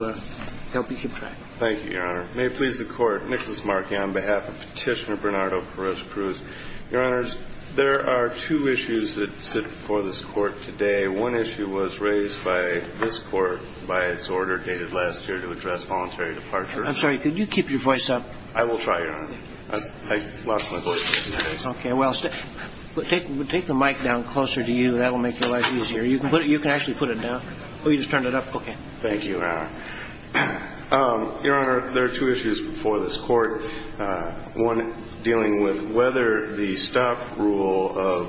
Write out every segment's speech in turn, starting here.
Thank you, Your Honor. May it please the Court, Nicholas Markey on behalf of Petitioner Bernardo Perez-Cruz. Your Honors, there are two issues that sit before this Court today. One issue was raised by this Court by its order dated last year to address voluntary departure. I'm sorry, could you keep your voice up? I will try, Your Honor. I lost my voice yesterday. Okay, well, take the mic down closer to you. That will make your life easier. You can actually put it down. Oh, you just turned it up? Okay. Thank you, Your Honor. Your Honor, there are two issues before this Court. One dealing with whether the stop rule of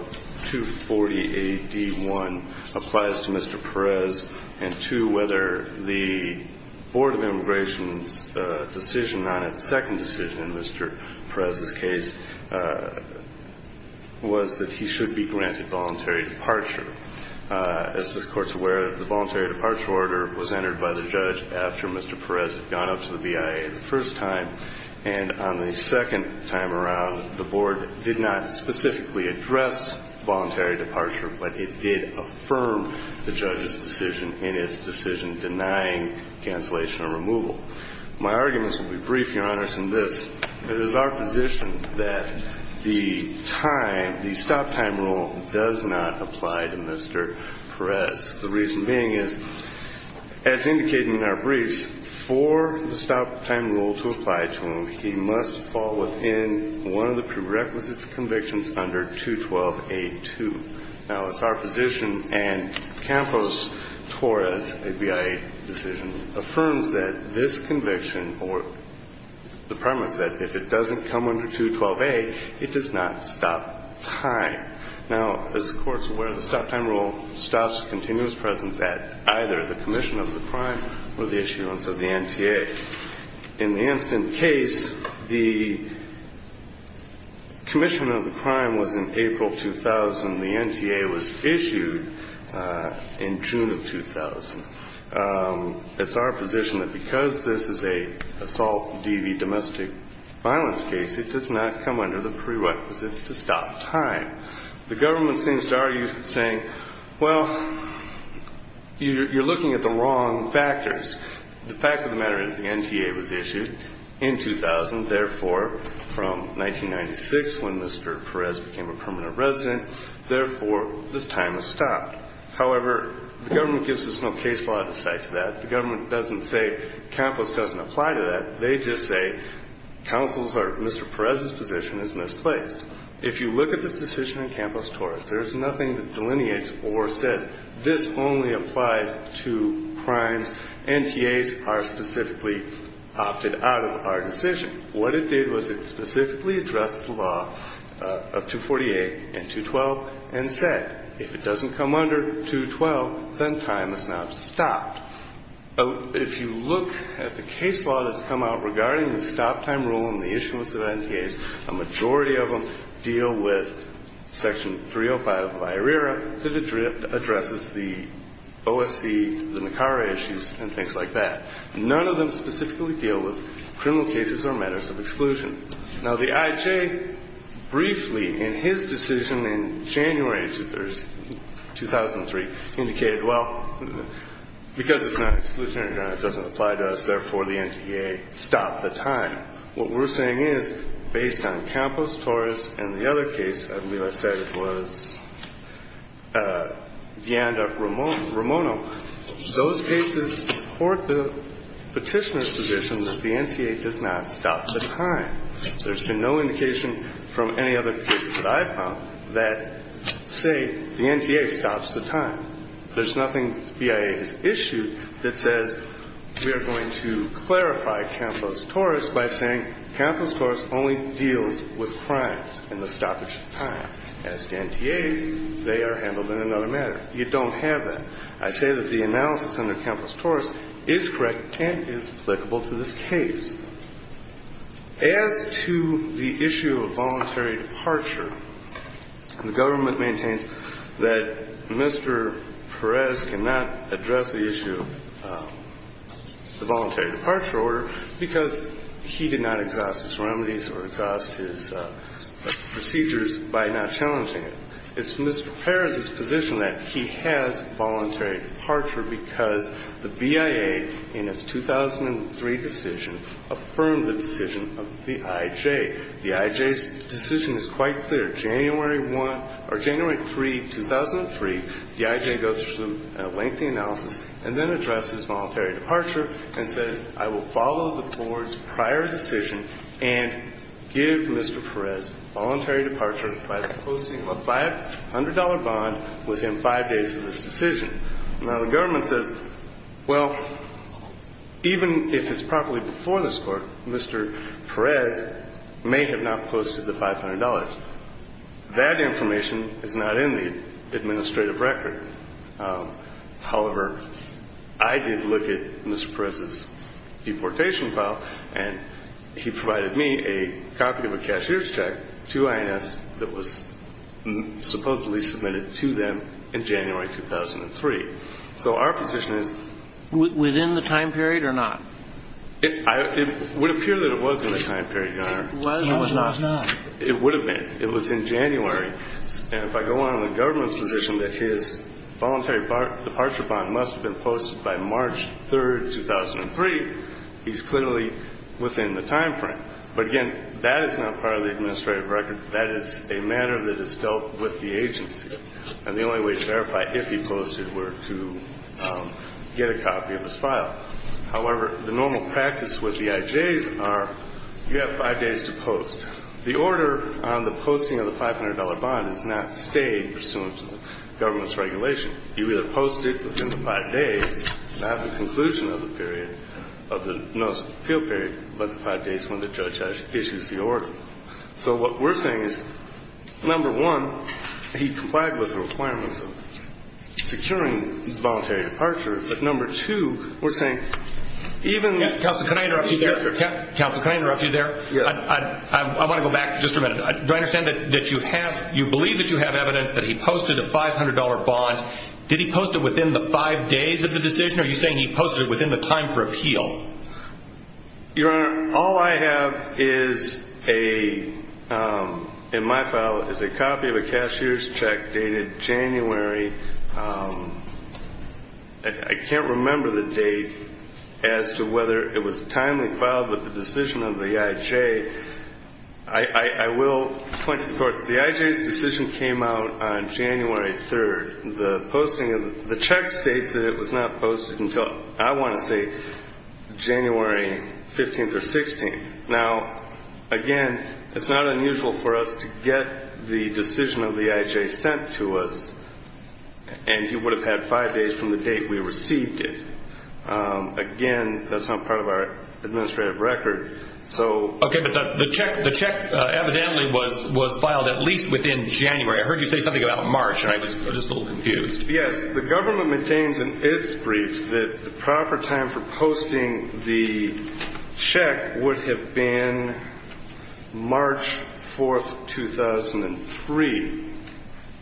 240 AD 1 applies to Mr. Perez, and two, whether the Board of Immigration's decision on it, second decision in Mr. Perez's case, was that he should be granted voluntary departure. As this Court's aware, the voluntary departure order was entered by the judge after Mr. Perez had gone up to the BIA the first time. And on the second time around, the Board did not specifically address voluntary departure, but it did affirm the judge's decision in its decision denying cancellation or removal. My arguments will be brief, Your Honors, in this. It is our position that the time, the stop time rule does not apply to Mr. Perez. The reason being is, as indicated in our briefs, for the stop time rule to apply to him, he must fall within one of the prerequisites convictions under 212A2. Now, it's our position, and Campos-Torres, a BIA decision, affirms that this conviction, or the premise that if it doesn't come under 212A, it does not stop time. Now, as the Court's aware, the stop time rule stops continuous presence at either the commission of the crime or the issuance of the NTA. In the Anston case, the commission of the crime was in April 2000. The NTA was issued in June of 2000. It's our position that because this is an assault DV domestic violence case, it does not come under the prerequisites to stop time. The government seems to argue saying, well, you're looking at the wrong factors. The fact of the matter is the NTA was issued in 2000, therefore, from 1996, when Mr. Perez became a permanent resident, therefore, the time is stopped. However, the government gives us no case law to cite to that. The government doesn't say Campos doesn't apply to that. They just say counsel's or Mr. Perez's position is misplaced. If you look at this decision in Campos-Torres, there is nothing that delineates or says this only applies to crimes. NTAs are specifically opted out of our decision. What it did was it specifically addressed the law of 248 and 212 and said if it doesn't come under 212, then time is now stopped. If you look at the case law that's come out regarding the stop time rule and the issuance of NTAs, a majority of them deal with Section 305 of IRERA that addresses the OSC, the NACARA issues, and things like that. None of them specifically deal with criminal cases or matters of exclusion. Now, the IJ briefly in his decision in January 2003 indicated, well, because it's not exclusionary, it doesn't apply to us. Therefore, the NTA stopped the time. What we're saying is based on Campos-Torres and the other case, I believe I said it was Vianda-Ramono, those cases support the Petitioner's position that the NTA does not stop the time. There's been no indication from any other case that I've found that say the NTA stops the time. There's nothing the BIA has issued that says we are going to clarify Campos-Torres by saying Campos-Torres only deals with crimes and the stoppage of time. As the NTAs, they are handled in another manner. You don't have that. I say that the analysis under Campos-Torres is correct and is applicable to this case. As to the issue of voluntary departure, the government maintains that Mr. Perez cannot address the issue of the voluntary departure order because he did not exhaust his remedies or exhaust his procedures by not challenging it. It's Mr. Perez's position that he has voluntary departure because the BIA in its 2003 decision affirmed the decision of the IJ. The IJ's decision is quite clear. January 1 or January 3, 2003, the IJ goes through a lengthy analysis and then addresses voluntary departure and says I will follow the Board's prior decision and give Mr. Perez voluntary departure by posting a $500 bond within five days of this decision. Now, the government says, well, even if it's properly before this Court, Mr. Perez may have not posted the $500. That information is not in the administrative record. However, I did look at Mr. Perez's deportation file, and he provided me a copy of a cashier's check to INS that was supposedly submitted to them in January 2003. So our position is ñ Within the time period or not? It would appear that it was in the time period, Your Honor. It was or was not? It would have been. It was in January. And if I go on in the government's position that his voluntary departure bond must have been posted by March 3, 2003, he's clearly within the time frame. But again, that is not part of the administrative record. That is a matter that is dealt with the agency. And the only way to verify if he posted were to get a copy of his file. However, the normal practice with the IJs are you have five days to post. The order on the posting of the $500 bond is not stayed pursuant to the government's regulation. You either post it within the five days, not at the conclusion of the period, of the notice of appeal period, but the five days when the judge issues the order. So what we're saying is, number one, he complied with the requirements of securing voluntary departure. But number two, we're saying even ñ Counsel, can I interrupt you there? Counsel, can I interrupt you there? Yes. I want to go back just a minute. Do I understand that you have ñ you believe that you have evidence that he posted a $500 bond. Did he post it within the five days of the decision, or are you saying he posted it within the time for appeal? Your Honor, all I have is a ñ in my file is a copy of a cashier's check dated January ñ I can't remember the date as to whether it was timely filed with the decision of the IJ. I will point to the fact that the IJ's decision came out on January 3rd. The posting of ñ the check states that it was not posted until, I want to say, January 15th or 16th. Now, again, it's not unusual for us to get the decision of the IJ sent to us. And he would have had five days from the date we received it. Again, that's not part of our administrative record. So ñ Okay, but the check evidently was filed at least within January. I heard you say something about March, and I was just a little confused. Yes. The government maintains in its brief that the proper time for posting the check would have been March 4th, 2003.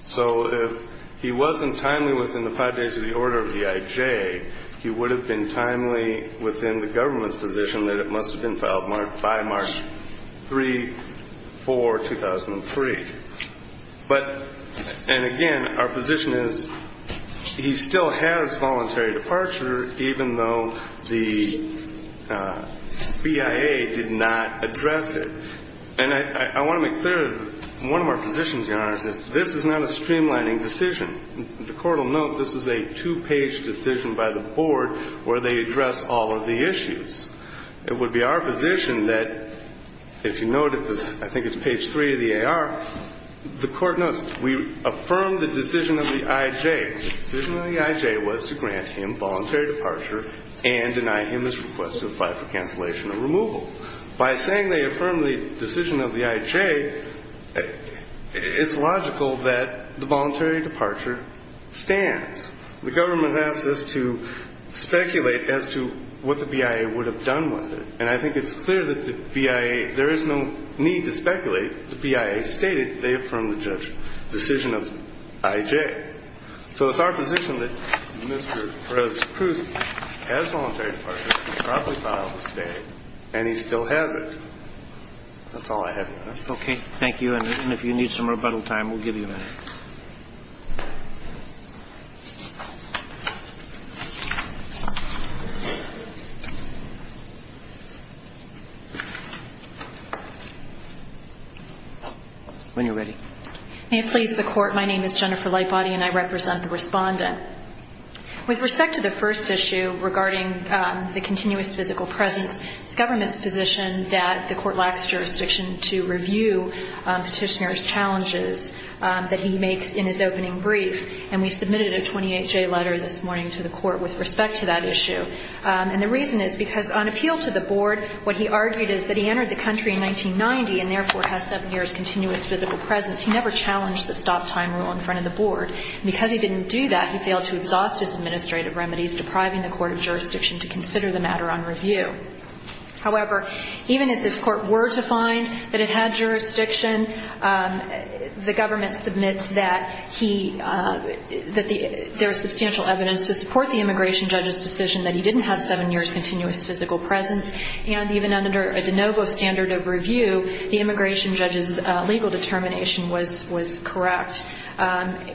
So if he wasn't timely within the five days of the order of the IJ, he would have been timely within the government's position that it must have been filed by March 3, 4, 2003. But ñ and, again, our position is he still has voluntary departure, even though the BIA did not address it. And I want to make clear that one of our positions, Your Honor, is this is not a streamlining decision. The Court will note this is a two-page decision by the Board where they address all of the issues. It would be our position that, if you note at the ñ I think it's page 3 of the AR, the Court notes, we affirm the decision of the IJ. The decision of the IJ was to grant him voluntary departure and deny him his request to apply for cancellation or removal. By saying they affirm the decision of the IJ, it's logical that the voluntary departure stands. The government asks us to speculate as to what the BIA would have done with it. And I think it's clear that the BIA ñ there is no need to speculate. The BIA stated they affirm the decision of IJ. So it's our position that Mr. Perez-Cruz has voluntary departure, can properly file the stay, and he still has it. That's all I have, Your Honor. Okay. Thank you. And if you need some rebuttal time, we'll give you that. When you're ready. May it please the Court. My name is Jennifer Lightbody, and I represent the Respondent. With respect to the first issue regarding the continuous physical presence, it's the government's position that the Court lacks jurisdiction to review Petitioner's challenges that he makes in his opening brief. And we submitted a 28-J letter this morning to the Court with respect to that issue. And the reason is because, on appeal to the Board, what he argued is that he entered the country in 1990 and therefore has seven years' continuous physical presence. He never challenged the stop-time rule in front of the Board. And because he didn't do that, he failed to exhaust his administrative remedies, depriving the Court of jurisdiction to consider the matter on review. However, even if this Court were to find that it had jurisdiction, the government submits that there is substantial evidence to support the immigration judge's decision that he didn't have seven years' continuous physical presence. And even under a de novo standard of review, the immigration judge's legal determination was correct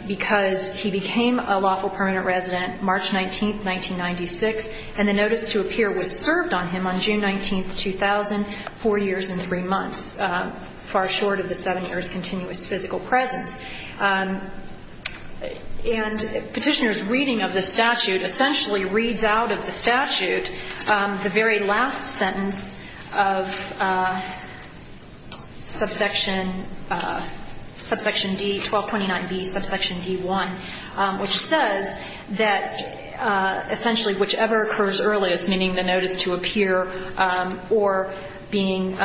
because he became a lawful permanent resident March 19, 1996, and the notice to appear was served on him on June 19, 2000, four years and three months, far short of the seven years' continuous physical presence. And Petitioner's reading of the statute essentially reads out of the statute the very last sentence of subsection D-1229B, subsection D-1, which says that essentially whichever occurs earliest, meaning the notice to appear or being,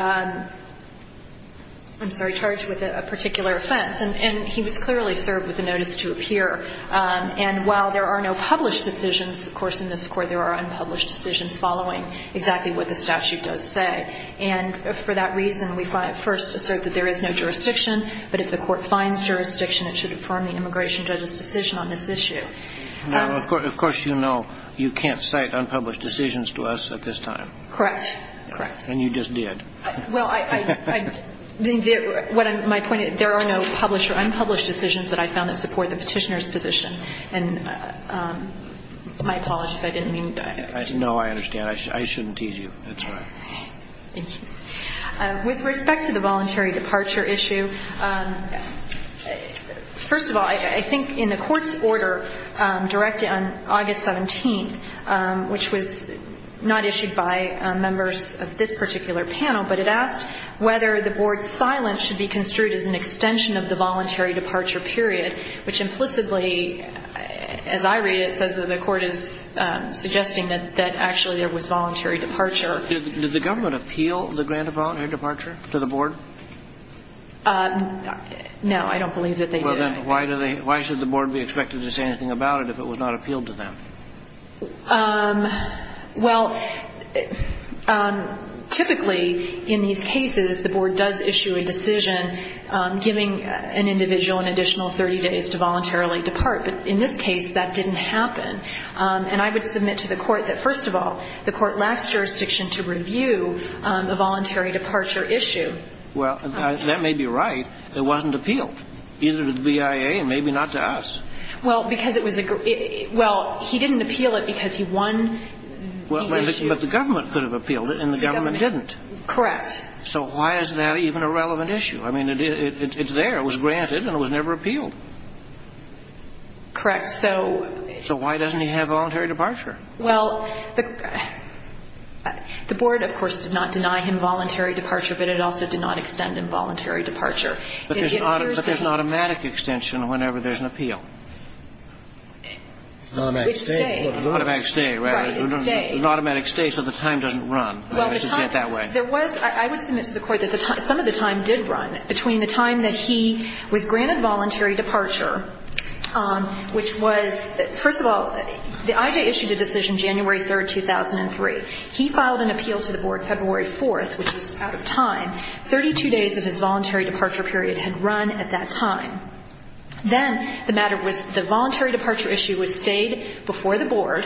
I'm sorry, charged with a particular offense. And he was clearly served with the notice to appear. And while there are no published decisions, of course, in this Court, there are unpublished decisions following exactly what the statute does say. And for that reason, we first assert that there is no jurisdiction, but if the Court finds jurisdiction, it should affirm the immigration judge's decision on this issue. And of course you know you can't cite unpublished decisions to us at this time. Correct. Correct. And you just did. Well, I think my point is there are no published or unpublished decisions that I found that support the Petitioner's position. And my apologies. I didn't mean to. No, I understand. I shouldn't tease you. That's all right. Thank you. With respect to the voluntary departure issue, first of all, I think in the Court's order directed on August 17th, which was not issued by members of this particular panel, but it asked whether the Board's silence should be construed as an extension of the voluntary departure period, which implicitly, as I read it, says that the Court is suggesting that actually there was voluntary departure. Did the government appeal the grant of voluntary departure to the Board? No, I don't believe that they did. Then why should the Board be expected to say anything about it if it was not appealed to them? Well, typically in these cases the Board does issue a decision giving an individual an additional 30 days to voluntarily depart. But in this case that didn't happen. And I would submit to the Court that, first of all, the Court lacks jurisdiction to review a voluntary departure issue. Well, that may be right. It wasn't appealed. Either to the BIA and maybe not to us. Well, because it was a grant. Well, he didn't appeal it because he won the issue. But the government could have appealed it and the government didn't. Correct. So why is that even a relevant issue? I mean, it's there. It was granted and it was never appealed. Correct. So why doesn't he have voluntary departure? Well, the Board, of course, did not deny him voluntary departure, but it also did not extend involuntary departure. But there's an automatic extension whenever there's an appeal. It's stay. Automatic stay. Right. It's stay. There's an automatic stay so the time doesn't run. Well, the time. Let's just say it that way. I would submit to the Court that some of the time did run. Between the time that he was granted voluntary departure, which was, first of all, the IJA issued a decision January 3rd, 2003. He filed an appeal to the Board February 4th, which was out of time. Thirty-two days of his voluntary departure period had run at that time. Then the matter was the voluntary departure issue was stayed before the Board.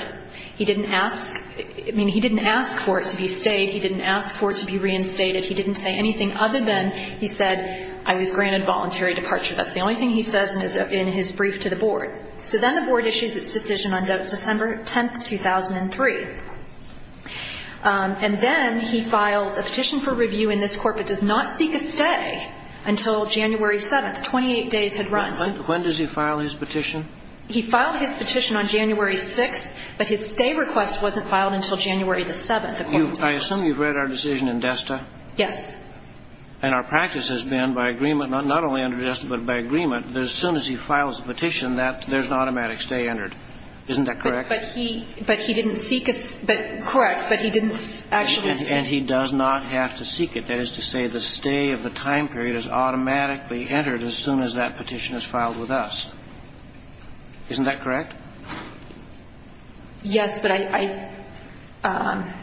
He didn't ask for it to be stayed. He didn't ask for it to be reinstated. He didn't say anything other than he said, I was granted voluntary departure. That's the only thing he says in his brief to the Board. So then the Board issues its decision on December 10th, 2003. And then he files a petition for review in this Court, but does not seek a stay until January 7th. Twenty-eight days had run. When does he file his petition? He filed his petition on January 6th, but his stay request wasn't filed until January 7th. I assume you've read our decision in DESTA. Yes. And our practice has been by agreement, not only under DESTA, but by agreement, that as soon as he files a petition, there's an automatic stay entered. Isn't that correct? But he didn't seek a stay. Correct. But he didn't actually seek a stay. And he does not have to seek it. That is to say the stay of the time period is automatically entered as soon as that petition is filed with us. Isn't that correct? Yes, but I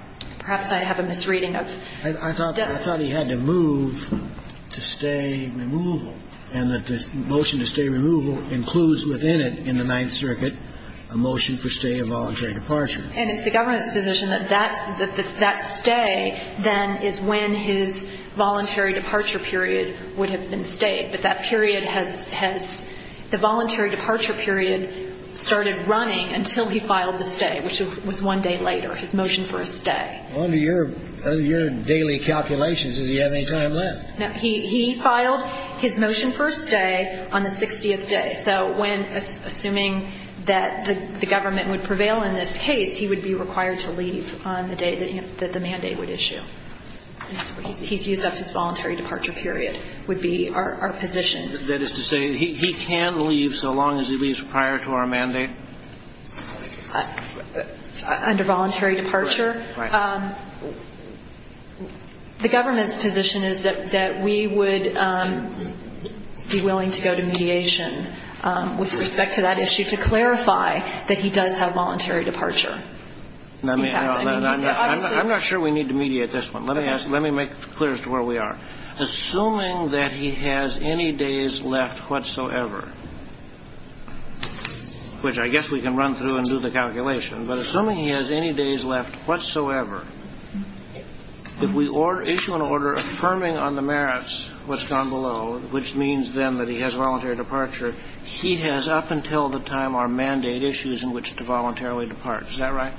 – perhaps I have a misreading of DESTA. I thought he had to move to stay removal, and that the motion to stay removal includes within it in the Ninth Circuit a motion for stay of voluntary departure. And it's the government's position that that stay then is when his voluntary departure period would have been stayed. But that period has – the voluntary departure period started running until he filed the stay, which was one day later, his motion for a stay. Under your daily calculations, does he have any time left? No. He filed his motion for a stay on the 60th day. So when – assuming that the government would prevail in this case, he would be required to leave on the day that the mandate would issue. He's used up his voluntary departure period would be our position. That is to say he can leave so long as he leaves prior to our mandate? Under voluntary departure? Right. The government's position is that we would be willing to go to mediation with respect to that issue to clarify that he does have voluntary departure. I'm not sure we need to mediate this one. Let me make it clear as to where we are. Assuming that he has any days left whatsoever, which I guess we can run through and do the calculation, but assuming he has any days left whatsoever, if we issue an order affirming on the merits what's gone below, which means then that he has voluntary departure, he has up until the time our mandate issues in which to voluntarily depart. Is that right?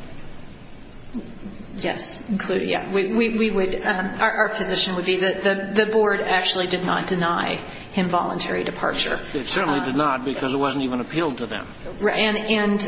Yes. We would – our position would be that the board actually did not deny him voluntary departure. It certainly did not because it wasn't even appealed to them. And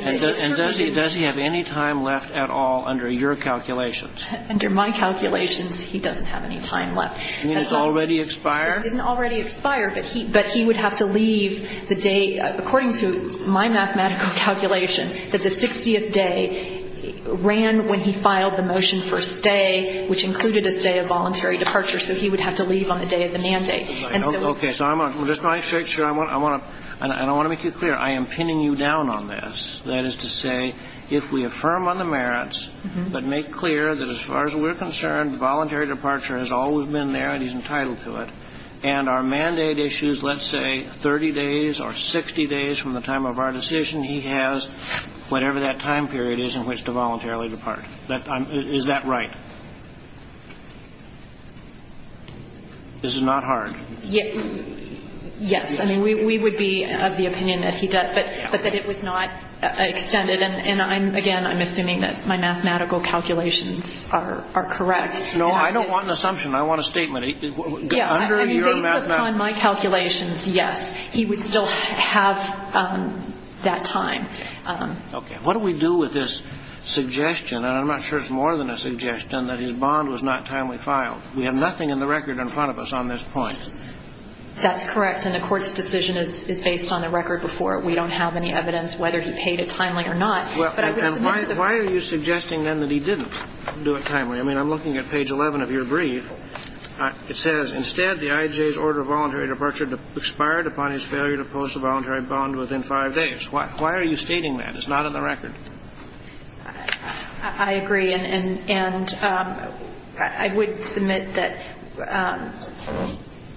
does he have any time left at all under your calculations? Under my calculations, he doesn't have any time left. You mean it's already expired? It didn't already expire, but he would have to leave the day, according to my mathematical calculation, that the 60th day ran when he filed the motion for stay, which included a stay of voluntary departure, so he would have to leave on the day of the mandate. Okay. So I'm going to – just to make sure, I want to make you clear, I am pinning you down on this, that is to say, if we affirm on the merits but make clear that as far as we're concerned, voluntary departure has always been there and he's entitled to it, and our mandate issues, let's say, 30 days or 60 days from the time of our decision, he has whatever that time period is in which to voluntarily depart. Is that right? This is not hard. Yes. I mean, we would be of the opinion that he does, but that it was not extended. And, again, I'm assuming that my mathematical calculations are correct. No, I don't want an assumption. I want a statement. Under your mathematical – Based upon my calculations, yes, he would still have that time. Okay. What do we do with this suggestion? And I'm not sure it's more than a suggestion that his bond was not timely filed. We have nothing in the record in front of us on this point. That's correct, and the Court's decision is based on the record before it. We don't have any evidence whether he paid it timely or not. And why are you suggesting, then, that he didn't do it timely? I mean, I'm looking at page 11 of your brief. It says, Instead, the IJ's order of voluntary departure expired upon his failure to post a voluntary bond within five days. Why are you stating that? It's not in the record. I agree, and I would submit that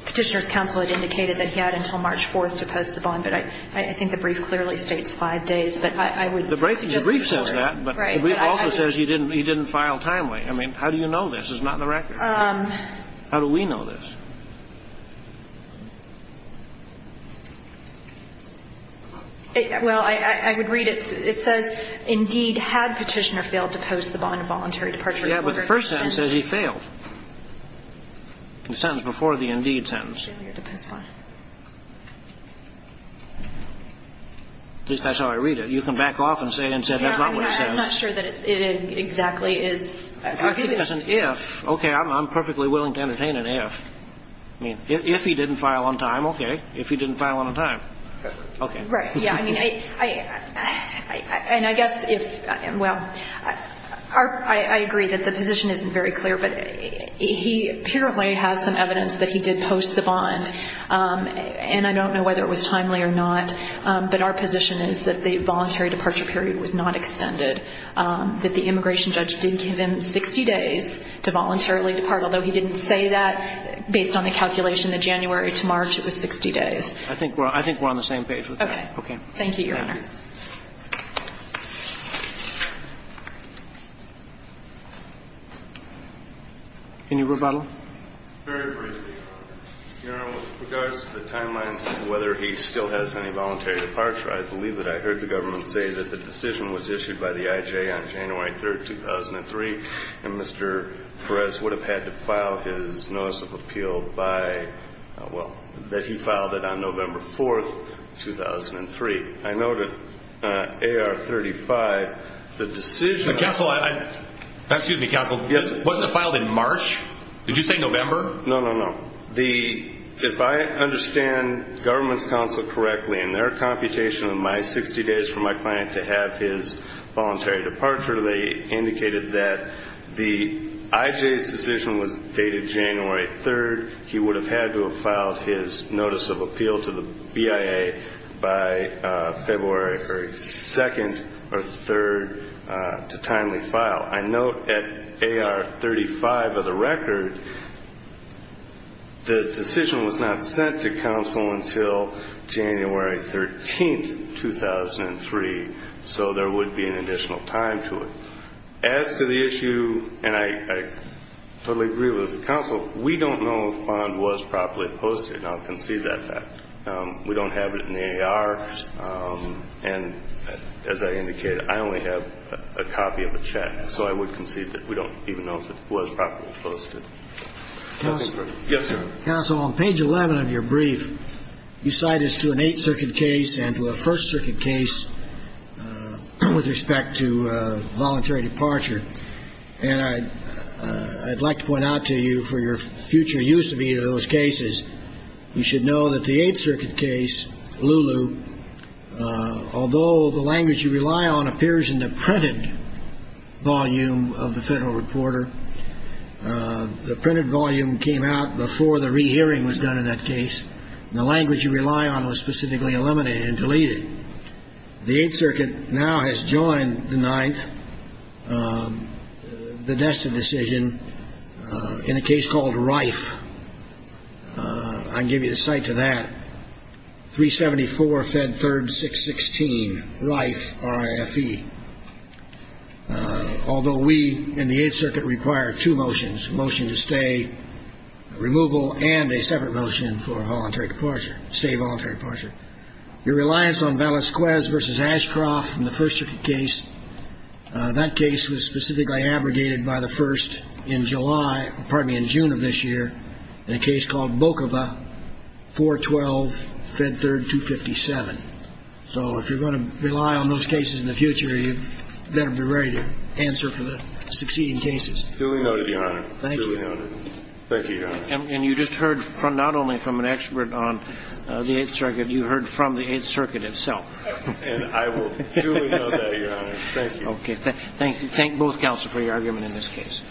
Petitioner's counsel had indicated that he had until March 4th to post a bond, but I think the brief clearly states five days. The brief says that, but the brief also says he didn't file timely. I mean, how do you know this? It's not in the record. How do we know this? Well, I would read it. It says, Indeed, had Petitioner failed to post the bond of voluntary departure in the order of five days. Yeah, but the first sentence says he failed. The sentence before the indeed sentence. Yeah, the post bond. At least that's how I read it. You can back off and say that's not what it says. Yeah, I'm not sure that it exactly is. In fact, it has an if. Okay, I'm perfectly willing to entertain an if. I mean, if he didn't file on time, okay. If he didn't file on time, okay. Right, yeah, I mean, and I guess if, well, I agree that the position isn't very clear, but he apparently has some evidence that he did post the bond, and I don't know whether it was timely or not, but our position is that the voluntary departure period was not extended, that the immigration judge did give him 60 days to voluntarily depart, although he didn't say that based on the calculation that January to March it was 60 days. I think we're on the same page with that. Okay. Thank you, Your Honor. Thank you. Any rebuttal? Very briefly. Your Honor, with regards to the timelines and whether he still has any voluntary departure, I believe that I heard the government say that the decision was issued by the IJ on January 3rd, 2003, and Mr. Perez would have had to file his notice of appeal by, well, that he filed it on November 4th, 2003. I noted AR-35, the decision. Counsel, wasn't it filed in March? Did you say November? No, no, no. If I understand government's counsel correctly, in their computation of my 60 days for my client to have his voluntary departure, they indicated that the IJ's decision was dated January 3rd. He would have had to have filed his notice of appeal to the BIA by February 2nd or 3rd to timely file. I note at AR-35 of the record, the decision was not sent to counsel until January 13th, 2003, so there would be an additional time to it. As to the issue, and I totally agree with counsel, we don't know if FOND was properly posted. I'll concede that fact. We don't have it in the AR, and as I indicated, I only have a copy of the check. So I would concede that we don't even know if it was properly posted. Yes, sir. Counsel, on page 11 of your brief, you cite us to an Eighth Circuit case and to a First Circuit case with respect to voluntary departure. And I'd like to point out to you, for your future use of either of those cases, you should know that the Eighth Circuit case, Lulu, although the language you rely on appears in the printed volume of the Federal Reporter, the printed volume came out before the rehearing was done in that case, and the language you rely on was specifically eliminated and deleted. The Eighth Circuit now has joined the Ninth, the Nesta decision, in a case called Rife. I can give you a cite to that. 374 Fed 3rd 616, Rife, R-I-F-E. Although we in the Eighth Circuit require two motions, a motion to stay, removal, and a separate motion for voluntary departure, stay voluntary departure. Your reliance on Valesquez v. Ashcroft in the First Circuit case, that case was specifically abrogated by the First in July, pardon me, in June of this year, in a case called Bokova 412 Fed 3rd 257. So if you're going to rely on those cases in the future, you better be ready to answer for the succeeding cases. Truly noted, Your Honor. Truly noted. Thank you, Your Honor. And you just heard not only from an expert on the Eighth Circuit, you heard from the Eighth Circuit itself. And I will truly note that, Your Honor. Thank you. Okay. Thank both counsel for your argument in this case.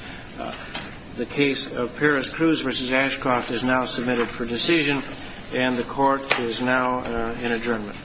The case of Perez-Cruz v. Ashcroft is now submitted for decision, and the Court is now in adjournment.